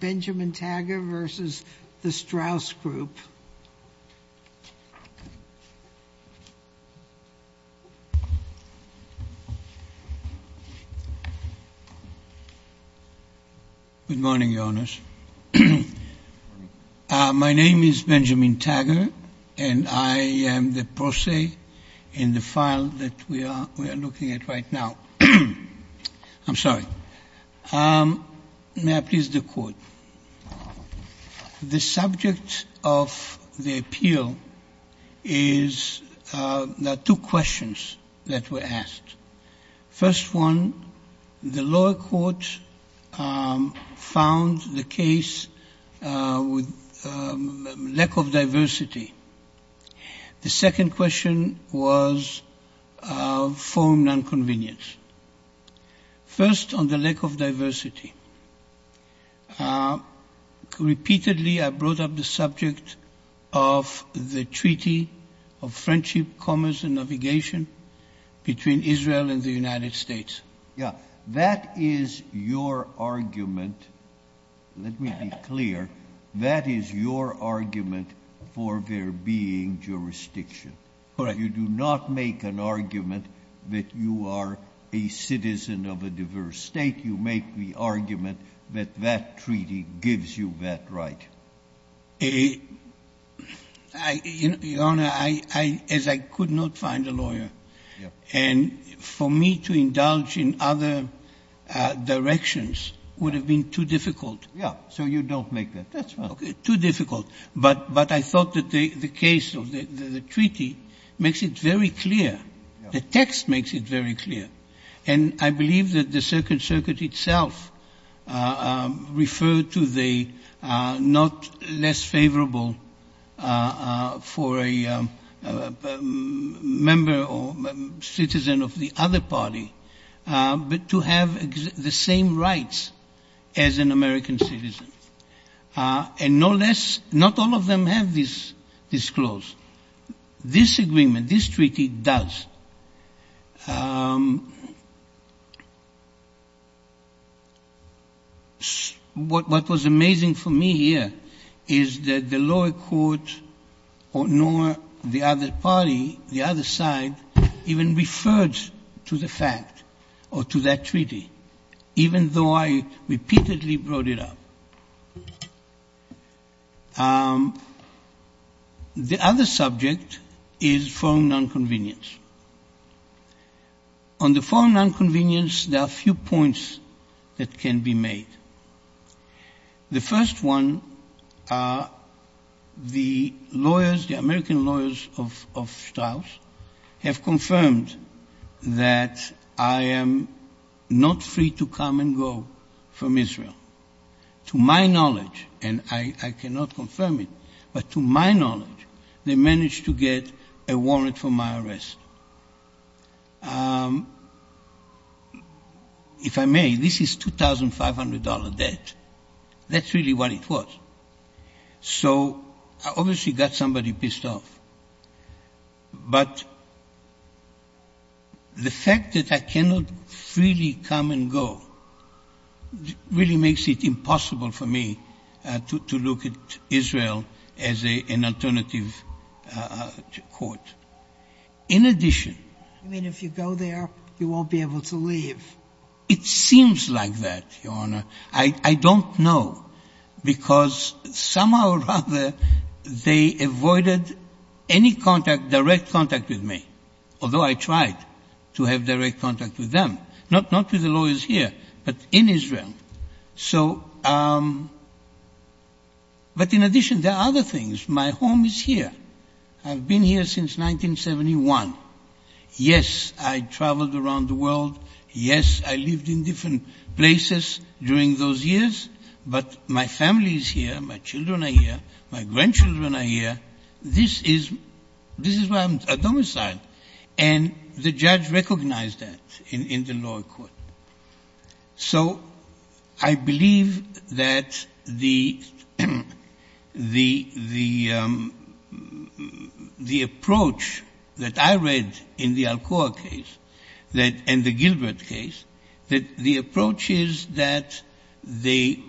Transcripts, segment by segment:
Benjamin Tagger v. Strauss Group Ltd. I'm sorry. May I please do the quote? The subject of the appeal is that two questions that were asked. First one, the lower court found the case with lack of diversity. The second question was for non-convenience. First, on the lack of diversity. Repeatedly I brought up the subject of the Treaty of Friendship, Commerce and Navigation between Israel and the United States. That is your argument for there being jurisdiction. You do not make an argument that you are a citizen of a diverse state. You make the argument that that treaty gives you that right. Your Honor, as I could not find a lawyer. And for me to indulge in other directions would have been too difficult. So you don't make that. Too difficult. But I thought that the case of the treaty makes it very clear. The text makes it very clear. And I believe that the Second Circuit itself referred to the not less favorable for a member or citizen of the other party but to have the same rights as an American citizen. And no less, not all of them have this disclose. This agreement, this treaty does. What was amazing for me here is that the lower court or nor the other party, the other side, even referred to the fact or to that treaty, even though I repeatedly brought it up. The other subject is foreign nonconvenience. On the foreign nonconvenience, there are a few points that can be made. The first one, the lawyers, the American lawyers of Strauss have confirmed that I am not free to come and go from Israel. To my knowledge, and I cannot confirm it, but to my knowledge, they managed to get a warrant for my arrest. If I may, this is $2,500 debt. That's really what it was. So I obviously got somebody pissed off. But the fact that I cannot freely come and go really makes it impossible for me to look at Israel as an alternative court. In addition. I mean, if you go there, you won't be able to leave. I don't know because somehow or other they avoided any contact, direct contact with me, although I tried to have direct contact with them, not with the lawyers here, but in Israel. So. But in addition, there are other things. My home is here. I've been here since 1971. Yes, I traveled around the world. Yes, I lived in different places during those years. But my family is here. My children are here. My grandchildren are here. This is why I'm a domicile. And the judge recognized that in the law court. So I believe that the approach that I read in the Alcoa case and the Gilbert case, that the approach is that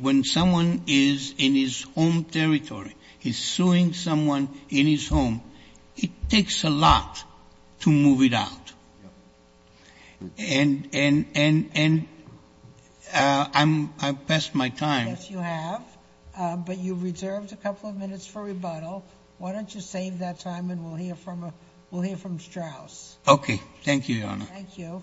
when someone is in his home territory, he's suing someone in his home, it takes a lot to move it out. And I've passed my time. Yes, you have. But you reserved a couple of minutes for rebuttal. Why don't you save that time and we'll hear from Strauss. Okay. Thank you, Your Honor. Thank you.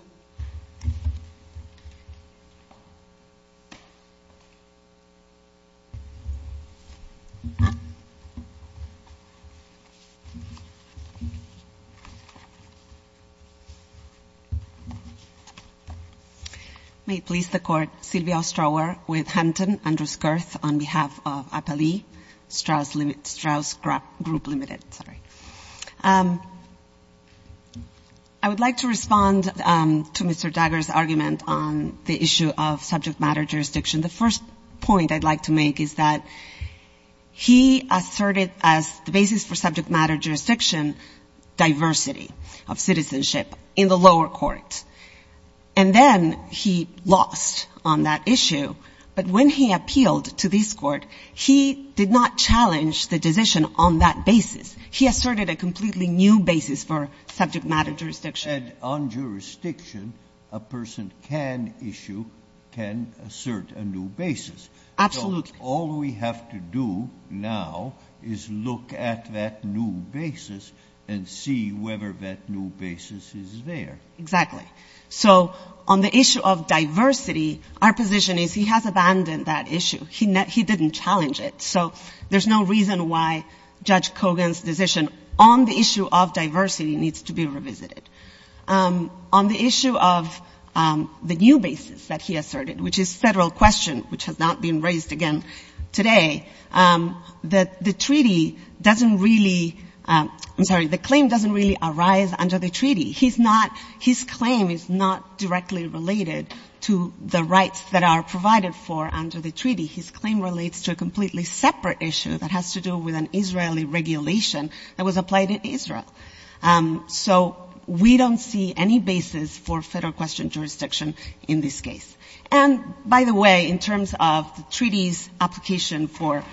May it please the Court. Sylvia Ostrower with Hampton, Andrews-Girth on behalf of Appali Strauss Group Limited. Sorry. I would like to respond to Mr. Dagger's argument on the issue of subject matter jurisdiction. The first point I'd like to make is that he asserted as the basis for subject matter jurisdiction diversity of citizenship in the lower court. And then he lost on that issue. But when he appealed to this court, he did not challenge the decision on that basis. He asserted a completely new basis for subject matter jurisdiction. And on jurisdiction, a person can issue, can assert a new basis. Absolutely. So all we have to do now is look at that new basis and see whether that new basis is there. Exactly. So on the issue of diversity, our position is he has abandoned that issue. He didn't challenge it. So there's no reason why Judge Kogan's decision on the issue of diversity needs to be revisited. On the issue of the new basis that he asserted, which is federal question, which has not been raised again today, that the treaty doesn't really, I'm sorry, the claim doesn't really arise under the treaty. He's not, his claim is not directly related to the rights that are provided for under the treaty. His claim relates to a completely separate issue that has to do with an Israeli regulation that was applied in Israel. So we don't see any basis for federal question jurisdiction in this case. And, by the way, in terms of the treaty's application for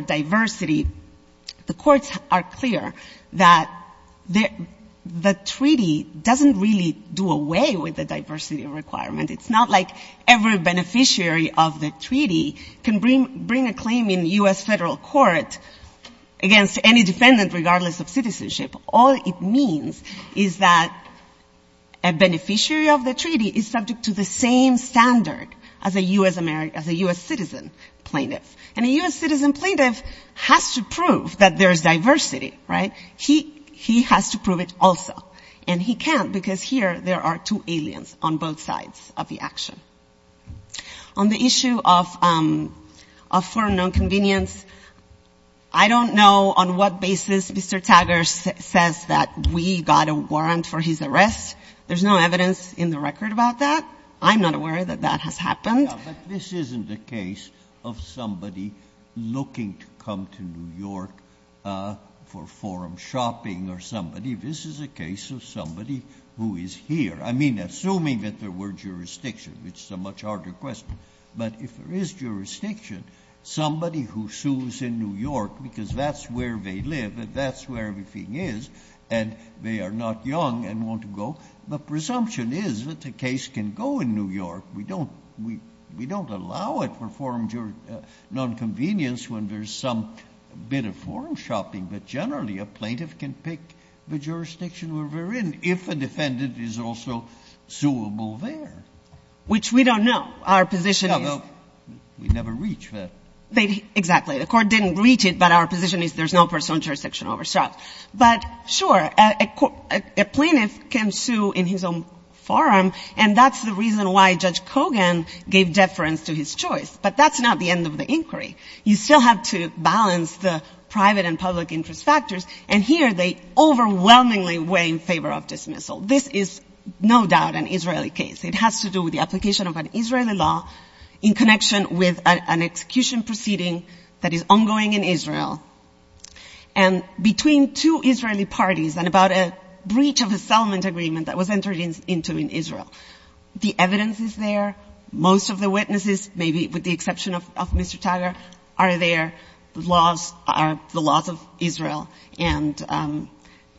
diversity, the courts are clear that the treaty doesn't really do away with the diversity requirement. It's not like every beneficiary of the treaty can bring a claim in U.S. federal court against any defendant, regardless of citizenship. All it means is that a beneficiary of the treaty is subject to the same standard as a U.S. citizen plaintiff. And a U.S. citizen plaintiff has to prove that there is diversity, right? He has to prove it also. And he can't, because here there are two aliens on both sides of the action. On the issue of foreign nonconvenience, I don't know on what basis Mr. Taggart says that we got a warrant for his arrest. There's no evidence in the record about that. I'm not aware that that has happened. Yeah, but this isn't a case of somebody looking to come to New York for forum shopping or somebody. This is a case of somebody who is here. I mean, assuming that there were jurisdiction, which is a much harder question. But if there is jurisdiction, somebody who sues in New York, because that's where they live and that's where everything is, and they are not young and want to go. The presumption is that the case can go in New York. We don't allow it for nonconvenience when there's some bit of forum shopping. But generally, a plaintiff can pick the jurisdiction where they're in if a defendant is also suable there. Which we don't know. Our position is. Yeah, well, we never reach that. Exactly. The Court didn't reach it, but our position is there's no personal jurisdiction over shops. But, sure, a plaintiff can sue in his own forum, and that's the reason why Judge Kogan gave deference to his choice. But that's not the end of the inquiry. You still have to balance the private and public interest factors, and here they overwhelmingly weigh in favor of dismissal. This is no doubt an Israeli case. It has to do with the application of an Israeli law in connection with an execution proceeding that is ongoing in Israel. And between two Israeli parties and about a breach of the settlement agreement that was entered into in Israel, the evidence is there. Most of the witnesses, maybe with the exception of Mr. Taggart, are there. The laws are the laws of Israel. And,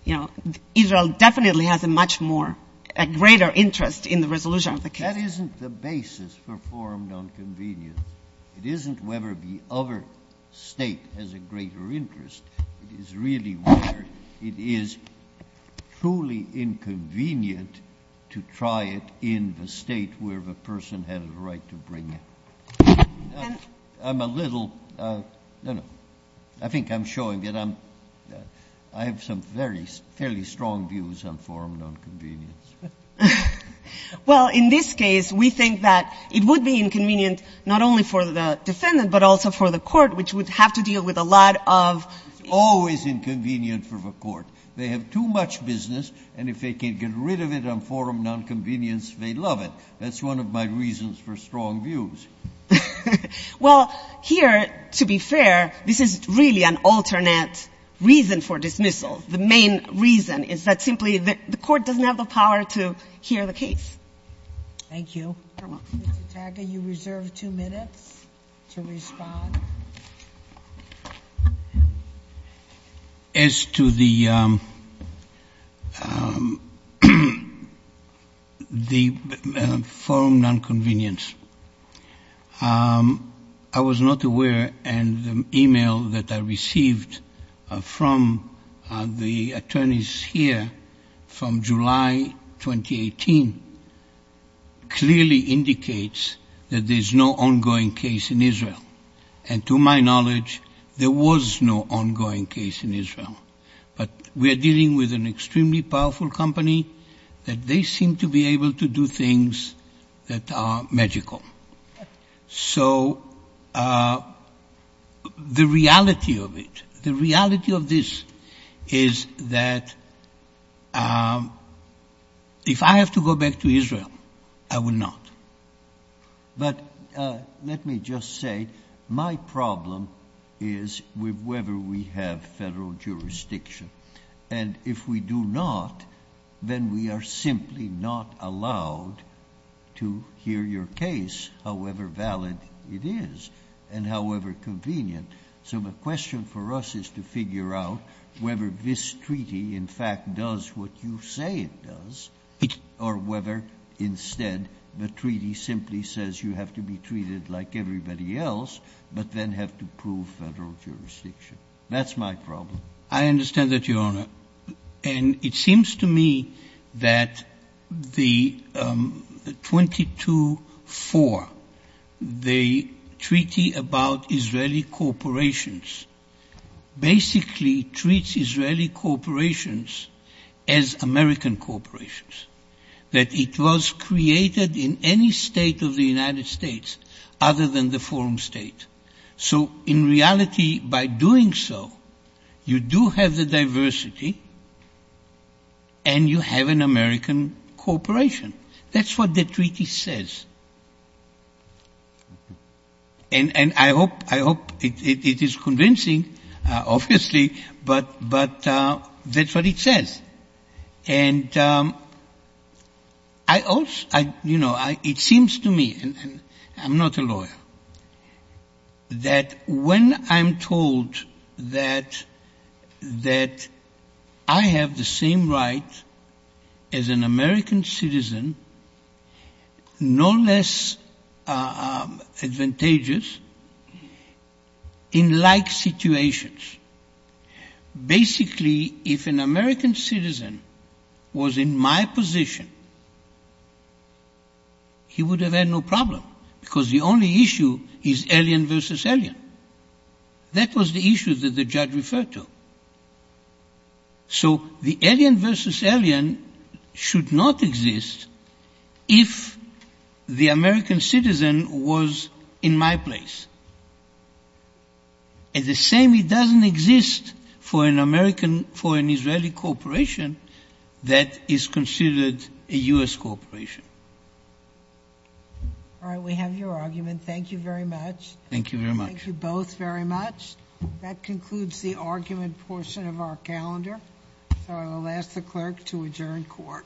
you know, Israel definitely has a much more, a greater interest in the resolution of the case. That isn't the basis for forum nonconvenience. It isn't whether the other State has a greater interest. It is really whether it is truly inconvenient to try it in the State where the person had a right to bring it. I'm a little, no, no. I think I'm showing that I'm, I have some very, fairly strong views on forum nonconvenience. Well, in this case, we think that it would be inconvenient not only for the defendant, but also for the court, which would have to deal with a lot of... It's always inconvenient for the court. They have too much business, and if they can't get rid of it on forum nonconvenience, they love it. That's one of my reasons for strong views. Well, here, to be fair, this is really an alternate reason for dismissal. The main reason is that simply the court doesn't have the power to hear the case. Thank you. Mr. Taga, you reserve two minutes to respond. As to the forum nonconvenience, I was not aware, and the e-mail that I received from the attorneys here from July 2018 clearly indicates that there's no ongoing case in Israel. And to my knowledge, there was no ongoing case in Israel. But we are dealing with an extremely powerful company, and they seem to be able to do things that are magical. So the reality of it, the reality of this is that if I have to go back to Israel, I will not. But let me just say my problem is with whether we have federal jurisdiction. And if we do not, then we are simply not allowed to hear your case, however valid it is and however convenient. So the question for us is to figure out whether this treaty in fact does what you say it does or whether instead the treaty simply says you have to be treated like everybody else but then have to prove federal jurisdiction. That's my problem. I understand that, Your Honor. And it seems to me that the 22-4, the treaty about Israeli corporations, basically treats Israeli corporations as American corporations, that it was created in any state of the United States other than the forum state. So in reality, by doing so, you do have the diversity and you have an American corporation. That's what the treaty says. And I hope it is convincing, obviously, but that's what it says. And it seems to me, and I'm not a lawyer, that when I'm told that I have the same right as an American citizen, no less advantageous in like situations, basically if an American citizen was in my position, he would have had no problem because the only issue is alien versus alien. That was the issue that the judge referred to. So the alien versus alien should not exist if the American citizen was in my place. And the same doesn't exist for an Israeli corporation that is considered a U.S. corporation. All right. We have your argument. Thank you very much. Thank you very much. Thank you both very much. That concludes the argument portion of our calendar. So I will ask the clerk to adjourn court. Thank you.